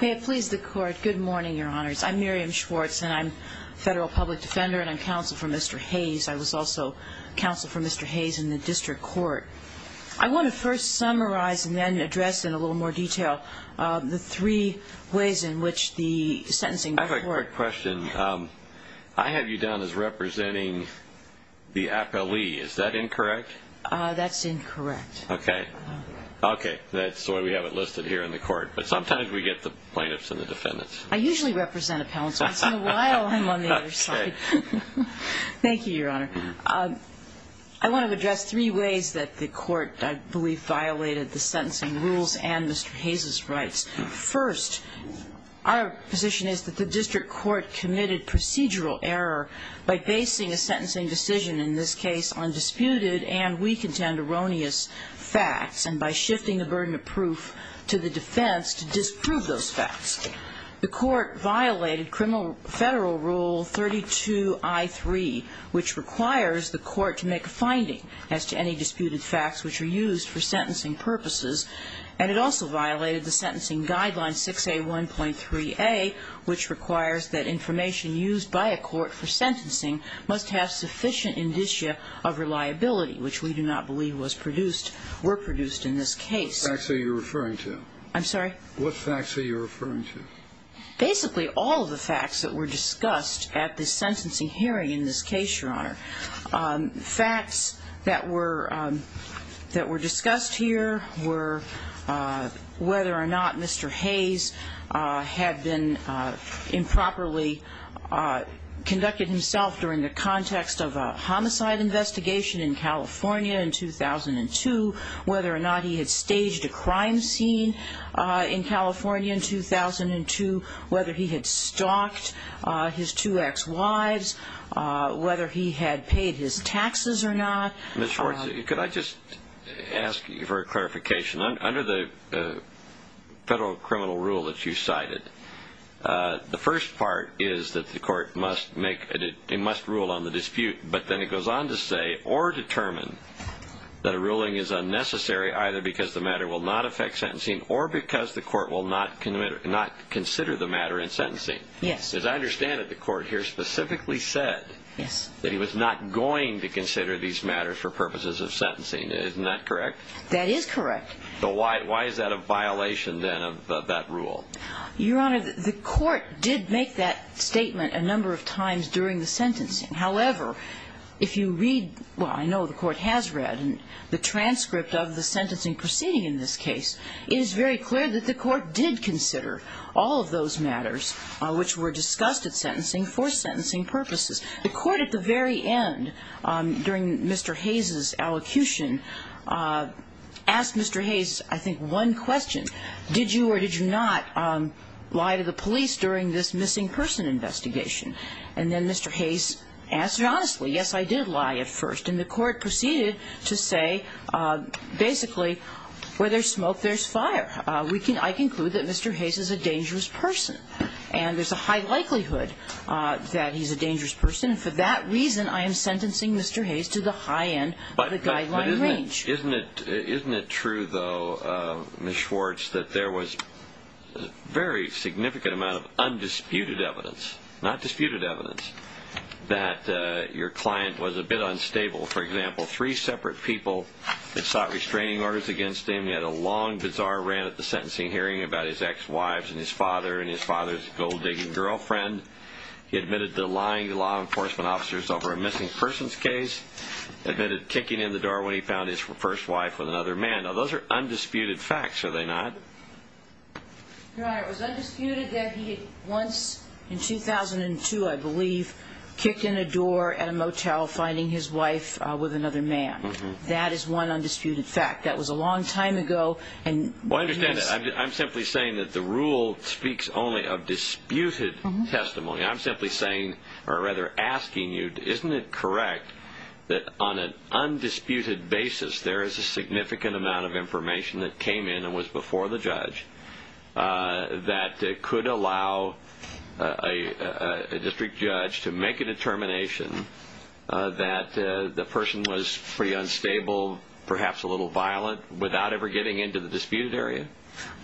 May it please the court, good morning your honors. I'm Miriam Schwartz and I'm federal public defender and I'm counsel for Mr. Hayes. I was also counsel for Mr. Hayes in the district court. I want to first summarize and then address in a little more detail the three ways in which the sentencing court... I have a quick question. I have you down as representing the appellee, is that incorrect? That's incorrect. Okay, okay, that's why we have it listed here in the court, but sometimes we get the plaintiffs and the defendants. I usually represent appellants. Thank you your honor. I want to address three ways that the court I believe violated the sentencing rules and Mr. Hayes' rights. First, our position is that the district court committed procedural error by basing a sentencing decision in this case on disputed and we contend erroneous facts and by shifting the disproved those facts. The court violated criminal federal rule 32 I3 which requires the court to make a finding as to any disputed facts which are used for sentencing purposes and it also violated the sentencing guideline 6A1.3a which requires that information used by a court for sentencing must have sufficient indicia of reliability which we do not believe was produced were produced in this case, your honor. Facts that were discussed here were whether or not Mr. Hayes had been improperly conducted himself during the context of a homicide investigation in California in 2002, whether or not he had staged a crime scene in California in 2002, whether he had stalked his two ex-wives, whether he had paid his taxes or not. Ms. Schwartz, could I just ask you for a clarification? Under the federal criminal rule that you cited, the first part is that the court must rule on the dispute but then it goes on to say or determine that a ruling is unnecessary either because the matter will not affect sentencing or because the court will not consider the matter in sentencing. Yes. As I understand it, the court here specifically said that he was not going to consider these matters for purposes of sentencing. Isn't that correct? That is correct. So why is that a violation then of that rule? Your honor, the court did make that statement a number of times during the sentencing. However, if you read, well I know the court has read the transcript of the sentencing proceeding in this case, it is very clear that the court did consider all of those matters which were discussed at sentencing for sentencing purposes. The court at the very end, during Mr. Hayes' allocution, asked Mr. Hayes I think one question. Did you or did you not lie to the police during this missing person investigation? And then Mr. Hayes answered honestly, yes I did lie at first. And the court proceeded to say basically where there's smoke there's fire. We can, I conclude that Mr. Hayes is a dangerous person and there's a high likelihood that he's a dangerous person. For that reason I am sentencing Mr. Hayes to the high end of the guideline range. But isn't it true though, Ms. Schwartz, that there was a very significant amount of undisputed evidence, not disputed evidence, that your client was a bit unstable. For instance, he had a long, bizarre rant at the sentencing hearing about his ex-wives and his father and his father's gold-digging girlfriend. He admitted to lying to law enforcement officers over a missing persons case. Admitted kicking in the door when he found his first wife with another man. Now those are undisputed facts, are they not? Your Honor, it was undisputed that he had once, in 2002 I believe, kicked in a door at a motel finding his wife with another man. That is one undisputed fact. That was a long time ago. I understand that. I'm simply saying that the rule speaks only of disputed testimony. I'm simply saying, or rather asking you, isn't it correct that on an undisputed basis there is a significant amount of information that came in and was before the judge that could allow a district judge to make a determination that the person was pretty unstable, perhaps a little violent, without ever getting into the disputed area?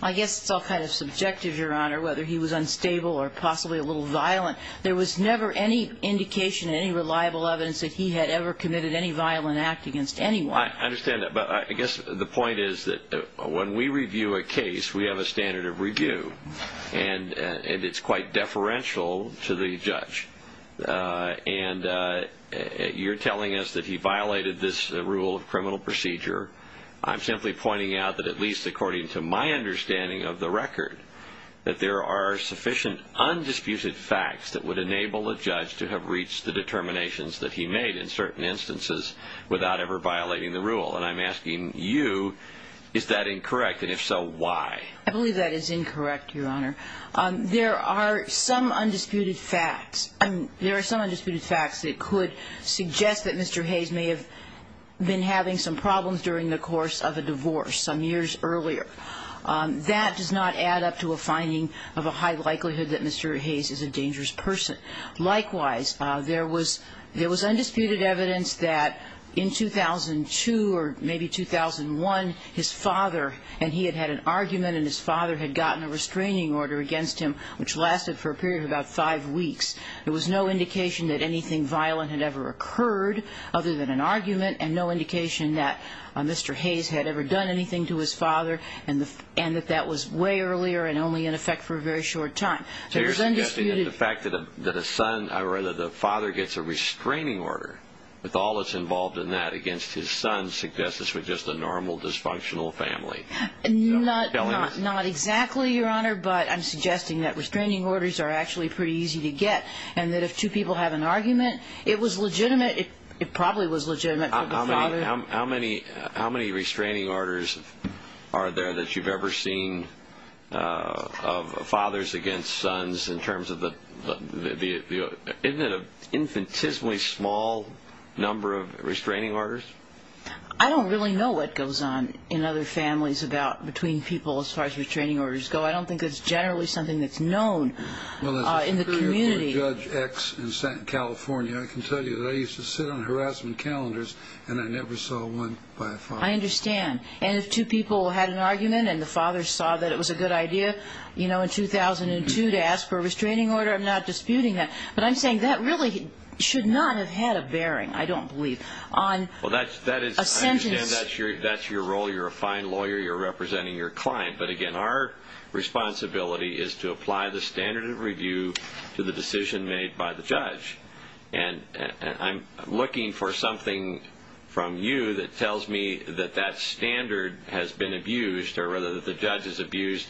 I guess it's all kind of subjective, Your Honor, whether he was unstable or possibly a little violent. There was never any indication of any reliable evidence that he had ever committed any violent act against anyone. I understand that, but I guess the point is that when we review a case, we have a standard of review, and it's quite deferential to the judge. You're telling us that he violated this rule of criminal procedure. I'm simply pointing out that at least according to my understanding of the record, that there are sufficient undisputed facts that would enable a judge to have reached the determinations that he made in certain instances without ever violating the rule. I'm asking you, is that incorrect, and if so, why? I believe that is incorrect, Your Honor. There are some undisputed facts. There are some undisputed facts that could suggest that Mr. Hayes may have been having some problems during the course of a divorce some years earlier. That does not add up to a finding of a high likelihood that Mr. Hayes is a dangerous person. Likewise, there was undisputed evidence that in 2002 or maybe 2001, his father, and he had had an argument, and his father had gotten a restraining order against him, which lasted for a period of about five weeks. There was no indication that anything violent had ever occurred other than an argument, and no indication that Mr. Hayes had ever done anything to his father, and that that was way earlier and only in effect for a very short time. So you're suggesting that the fact that a son, or rather the father gets a restraining order with all that's involved in that against his son suggests this was just a normal, dysfunctional family. Not exactly, Your Honor, but I'm suggesting that restraining orders are actually pretty easy to get, and that if two people have an argument, it was legitimate. It probably was legitimate for the father. How many restraining orders are there that you've ever seen of fathers against sons in terms of the, isn't it an infinitesimally small number of restraining orders? I don't really know what goes on in other families between people as far as restraining orders go. I don't think it's generally something that's known in the community. Well, as a superior court judge ex in California, I can tell you that I used to sit on harassment calendars, and I never saw one by a father. I understand. And if two people had an argument, and the father saw that it was a good idea, you know, in 2002 to ask for a restraining order, I'm not disputing that. But I'm saying that really should not have had a bearing, I don't believe, on a sentence. Well, I understand that's your role. You're a fine lawyer. You're representing your client. But again, our responsibility is to apply the standard of review to the decision made by the judge. And I'm looking for something from you that tells me that that standard has been abused, or rather that the judge has abused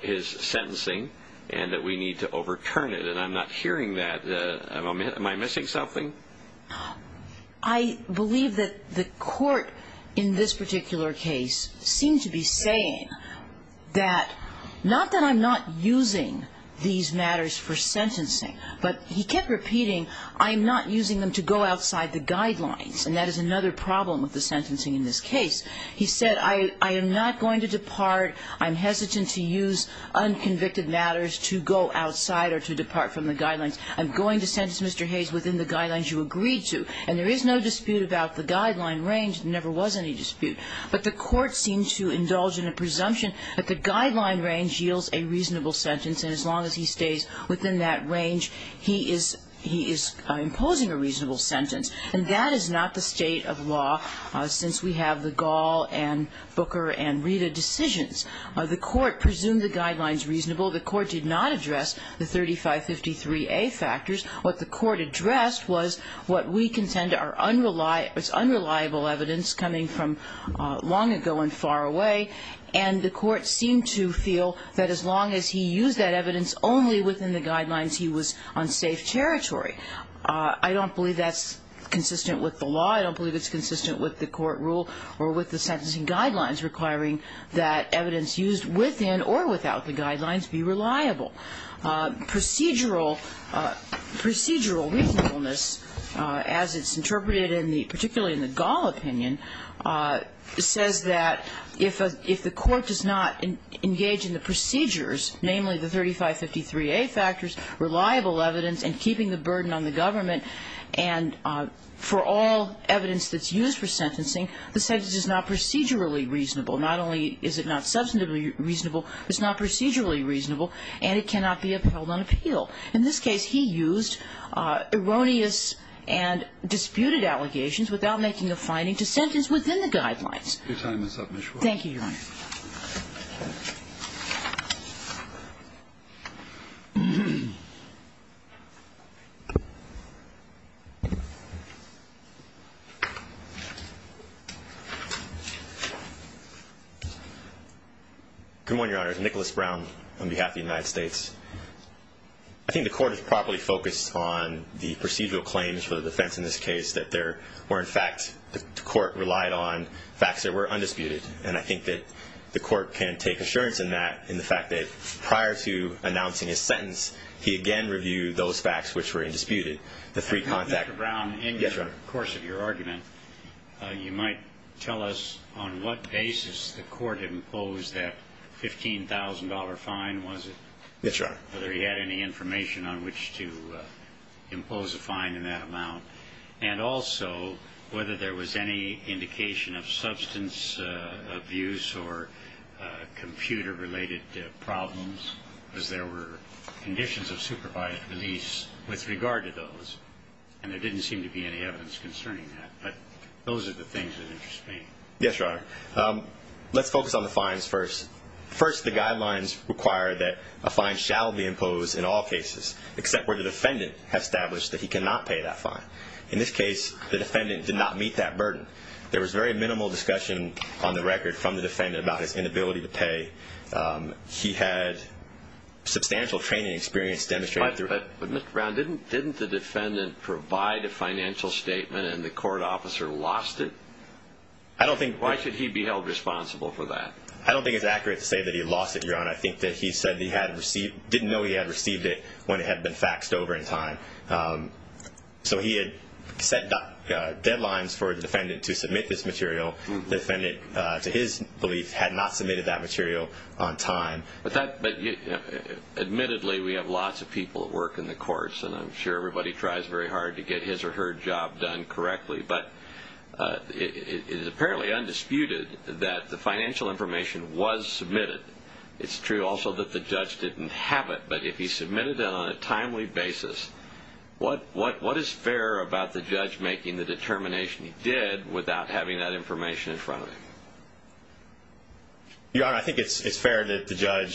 his sentencing, and that we need to overturn it. And I'm not hearing that. Am I missing something? I believe that the court in this particular case seemed to be saying that not that I'm not using these matters for sentencing, but he kept repeating I'm not using them to go outside the guidelines. And that is another problem with the sentencing in this case. He said I am not going to depart. I'm hesitant to use unconvicted matters to go outside or to depart from the guidelines. I'm going to sentence Mr. Hayes within the guidelines you agreed to. And there is no dispute about the guideline range. There never was any dispute. But the court seemed to indulge in a presumption that the guideline range yields a reasonable sentence. And as long as he stays within that range, he is imposing a reasonable sentence. And that is not the state of law since we have the Gall and Booker and Rita decisions. The court presumed the guidelines reasonable. The court did not address the 3553A factors. What the court addressed was what we contend are unreliable evidence coming from long ago and far away. And the court seemed to feel that as long as he used that evidence only within the guidelines, he was on safe territory. I don't believe that's consistent with the law. I don't believe it's consistent with the court rule or with the sentencing guidelines requiring that evidence used within or without the guidelines be reliable. Procedural reasonableness, as it's interpreted in the, particularly in the Gall opinion, says that if the court does not engage in the procedures, namely the 3553A factors, reliable evidence, and keeping the burden on the government, and for all evidence that's used for sentencing, the sentence is not procedurally reasonable. Not only is it not substantively reasonable, but it's not procedurally reasonable, and it cannot be upheld on appeal. In this case, he used erroneous and disputed allegations without making a finding to sentence within the guidelines. Thank you, Your Honor. Good morning, Your Honor. It's Nicholas Brown on behalf of the United States. I think the court has properly focused on the procedural claims for the defense in this case that there were, in fact, the court relied on facts that were undisputed. And I think that the court can take assurance in that, in the fact that prior to announcing his sentence, he again reviewed those facts which were undisputed. The three contact... Mr. Brown, in the course of your argument, you might tell us on what basis the court imposed that $15,000 fine, was it? Yes, Your Honor. Whether he had any information on which to impose a fine in that amount. And also, whether there was any indication of substance abuse or computer-related problems, as there were conditions of supervised release with regard to those. And there didn't seem to be any evidence concerning that. But those are the things that interest me. Yes, Your Honor. Let's focus on the fines first. First, the guidelines require that a fine shall be imposed in all cases, except where the defendant has established that he cannot pay that fine. In this case, the defendant did not meet that burden. There was very minimal discussion on the record from the defendant about his inability to pay. He had substantial training and experience demonstrating through... But Mr. Brown, didn't the defendant provide a financial statement and the court officer lost it? I don't think... Why should he be held responsible for that? I don't think it's accurate to say that he lost it, Your Honor. I think that he said that he didn't know he had received it when it had been faxed over in time. So he had set deadlines for the defendant to submit this material. The defendant, to his belief, had not submitted that material on time. But admittedly, we have lots of people that work in the courts, and I'm sure everybody tries very hard to get his or her job done correctly. But it is apparently undisputed that the financial information was submitted. It's true also that the judge didn't have it. But if he submitted it on a timely basis, what is fair about the judge making the determination he did without having that information in front of him? Your Honor, I think it's fair that the judge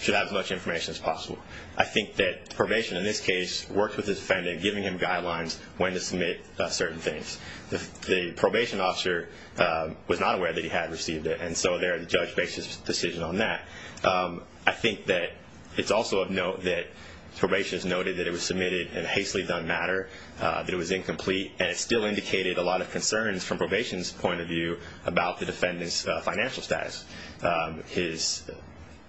should have as much information as possible. I think that probation, in this case, worked with the defendant, giving him guidelines when to submit certain things. The probation officer was not aware that he had received it. And so the judge makes his decision on that. I think that it's also of note that probation has noted that it was submitted in a hastily done matter, that it was incomplete, and it still indicated a lot of concerns from probation's point of view about the defendant's financial status. His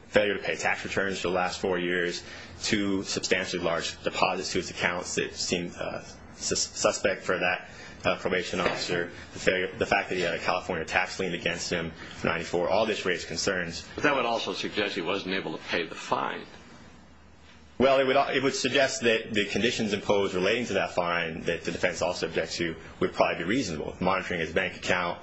failure to pay tax returns for the last four years, two substantially large deposits to his accounts that seemed suspect for that probation officer, the fact that he had a California tax lien against him in 1994, all this raised concerns. But that would also suggest he wasn't able to pay the fine. Well, it would suggest that the conditions imposed relating to that fine that the defendant's officer objects to would probably be reasonable, monitoring his bank account,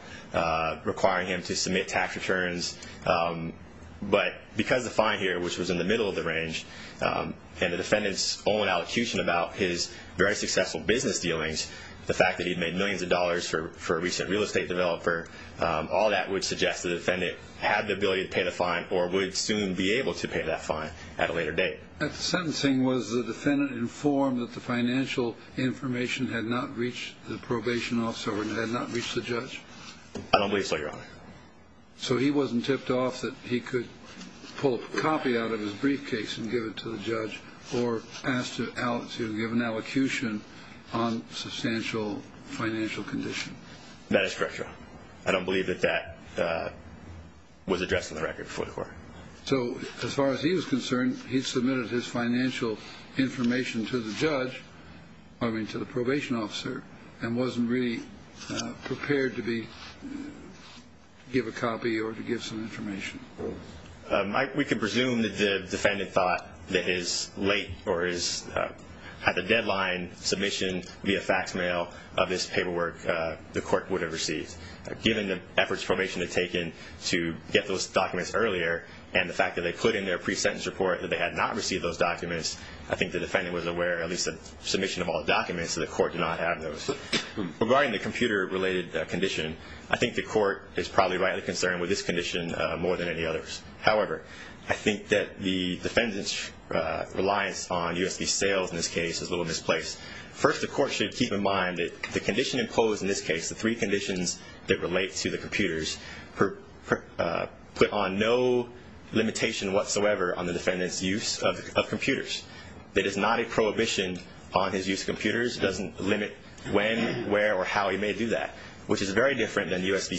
requiring him to submit tax returns. But because the fine here, which was in the middle of the range, and the defendant's own allocution about his very successful business dealings, the fact that he'd made millions of dollars for a recent real estate developer, all that would suggest the defendant had the ability to pay the fine or would soon be able to pay that fine at a later date. At the sentencing, was the defendant informed that the financial information had not reached the probation officer or had not reached the judge? I don't believe so, Your Honor. So he wasn't tipped off that he could pull a copy out of his briefcase and give it to the judge or asked to give an allocution on substantial financial condition? That is correct, Your Honor. I don't believe that that was addressed in the record before the court. So as far as he was concerned, he submitted his financial information to the judge, I mean, to the probation officer, and wasn't really prepared to give a copy or to give some information? We can presume that the defendant thought that his late or his at-the-deadline submission via fax mail of this paperwork the court would have received. Given the efforts probation had taken to get those documents earlier and the fact that they put in their pre-sentence report that they had not received those documents, I think the defendant was aware at least of the submission of all the documents that the court did not have those. Regarding the computer-related condition, I think the court is probably rightly concerned with this condition more than any others. However, I think that the defendant's reliance on USB sales in this case is a little misplaced. First the court should keep in mind that the condition imposed in this case, the three conditions that relate to the computers, put on no limitation whatsoever on the defendant's use of computers. It is not a prohibition on his use of computers. It doesn't limit when, where, or how he may do that, which is very different than USB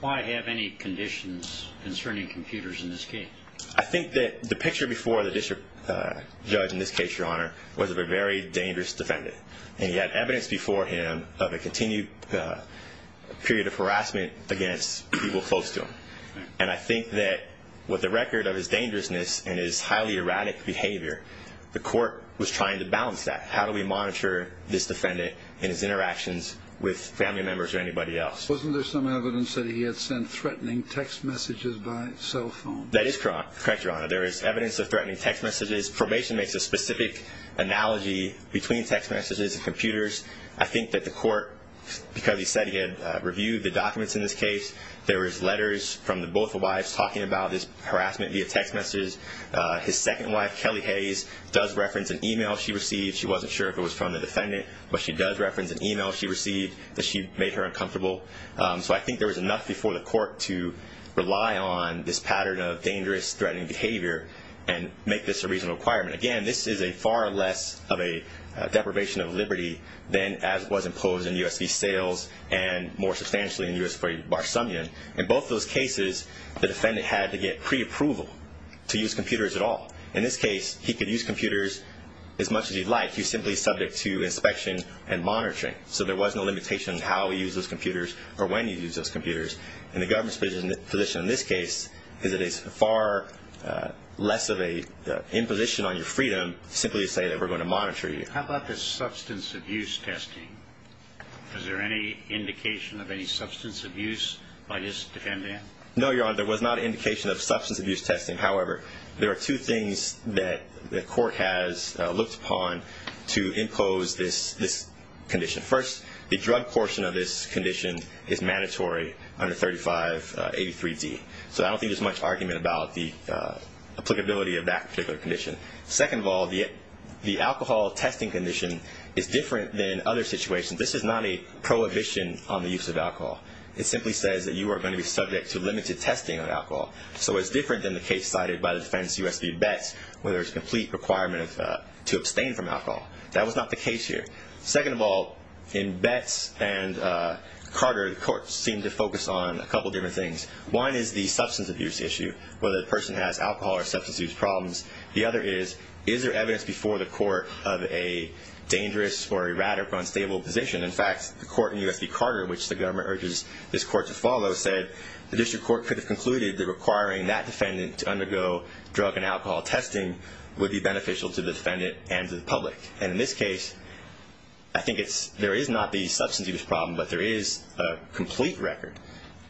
Why have any conditions concerning computers in this case? I think that the picture before the district judge in this case, Your Honor, was of a very dangerous defendant. And he had evidence before him of a continued period of harassment against people close to him. And I think that with the record of his dangerousness and his highly erratic behavior, the court was trying to balance that. How do we monitor this defendant and his interactions with family members or anybody else? Wasn't there some evidence that he had sent threatening text messages by cell phone? That is correct, Your Honor. There is evidence of threatening text messages. Probation makes a specific analogy between text messages and computers. I think that the court, because he said he had reviewed the documents in this case, there was letters from both the wives talking about this harassment via text messages. His second wife, Kelly Hayes, does reference an email she received. She wasn't sure if it was from the defendant, but she does reference an email she received that she made her uncomfortable. So I think there was enough before the court to rely on this pattern of dangerous, threatening behavior and make this a reasonable requirement. Again, this is far less of a deprivation of liberty than as was imposed in USB sales and more substantially in U.S. Bar Assembly. In both those cases, the defendant had to get preapproval to use computers at all. In this case, he could use computers as much as he'd like. He's simply subject to inspection and monitoring. So there was no limitation on how he used those computers or when he used those computers. And the government's position in this case is that it's far less of an imposition on your freedom to simply say that we're going to monitor you. How about the substance abuse testing? Was there any indication of any substance abuse by this defendant? No, Your Honor. There was not indication of substance abuse testing. However, there are two things that the court has looked upon to impose this condition. First, the drug portion of this condition is mandatory under 3583D. So I don't think there's much argument about the applicability of that particular condition. Second of all, the alcohol testing condition is different than other situations. This is not a prohibition on the use of alcohol. It simply says that you are going to be subject to limited testing of alcohol. So it's different than the case cited by the defense, U.S. v. Betts, where there's a complete requirement to abstain from alcohol. That was not the case here. Second of all, in Betts and Carter, the court seemed to focus on a couple different things. One is the substance abuse issue, whether the person has alcohol or substance abuse problems. The other is, is there evidence before the court of a dangerous or a rather unstable position? In fact, the court in U.S. v. Carter, which the government urges this court to follow, said the district court could have concluded that requiring that defendant to undergo drug and alcohol testing would be beneficial to the defendant and to the public. And in this case, I think there is not the substance abuse problem, but there is a complete record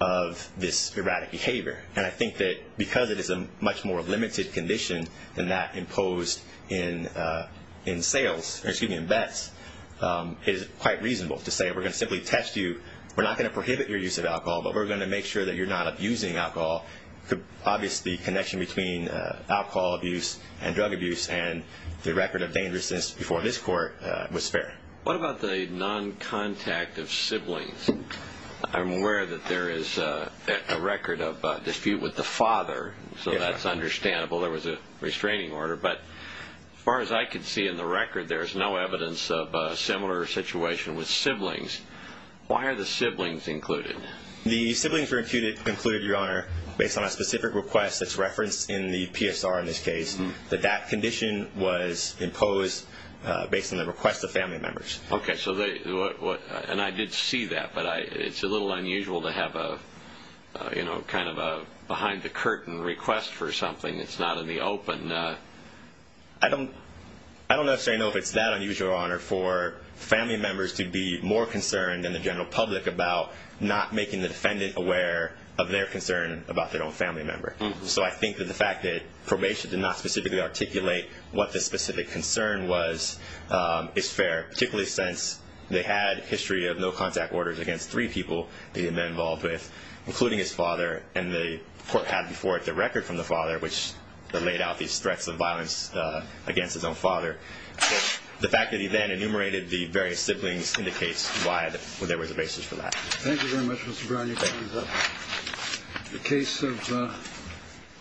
of this erratic behavior. And I think that because it is a much more limited condition than that imposed in Betts, it is quite reasonable to say, we're going to simply test you, we're not going to prohibit your use of alcohol, but we're going to make sure that you're not abusing alcohol. Obviously, the connection between alcohol abuse and drug abuse and the record of dangerousness before this court was fair. What about the non-contact of siblings? I'm aware that there is a record of dispute with the father, so that's understandable. There was a restraining order. But as far as I can see in the record, there is no evidence of a similar situation with siblings. Why are the siblings included? The siblings were included, Your Honor, based on a specific request that's referenced in the PSR in this case. That condition was imposed based on the request of family members. And I did see that, but it's a little unusual to have a kind of a behind-the-curtain request for something that's not in the open. I don't necessarily know if it's that unusual, Your Honor, for family members to be more concerned than the general public about not making the defendant aware of their concern about their own family member. So I think that the fact that probation did not specifically articulate what the specific concern was is fair, particularly since they had a history of no-contact orders against three people they had been involved with, including his father, and the court had before it their record from the father, which laid out these threats of violence against his own father. So the fact that he then enumerated the various siblings indicates why there was a basis for that. Thank you very much, Mr. Brown. Thank you. Your time is up. The case of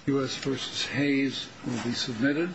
U.S. v. Hayes will be submitted.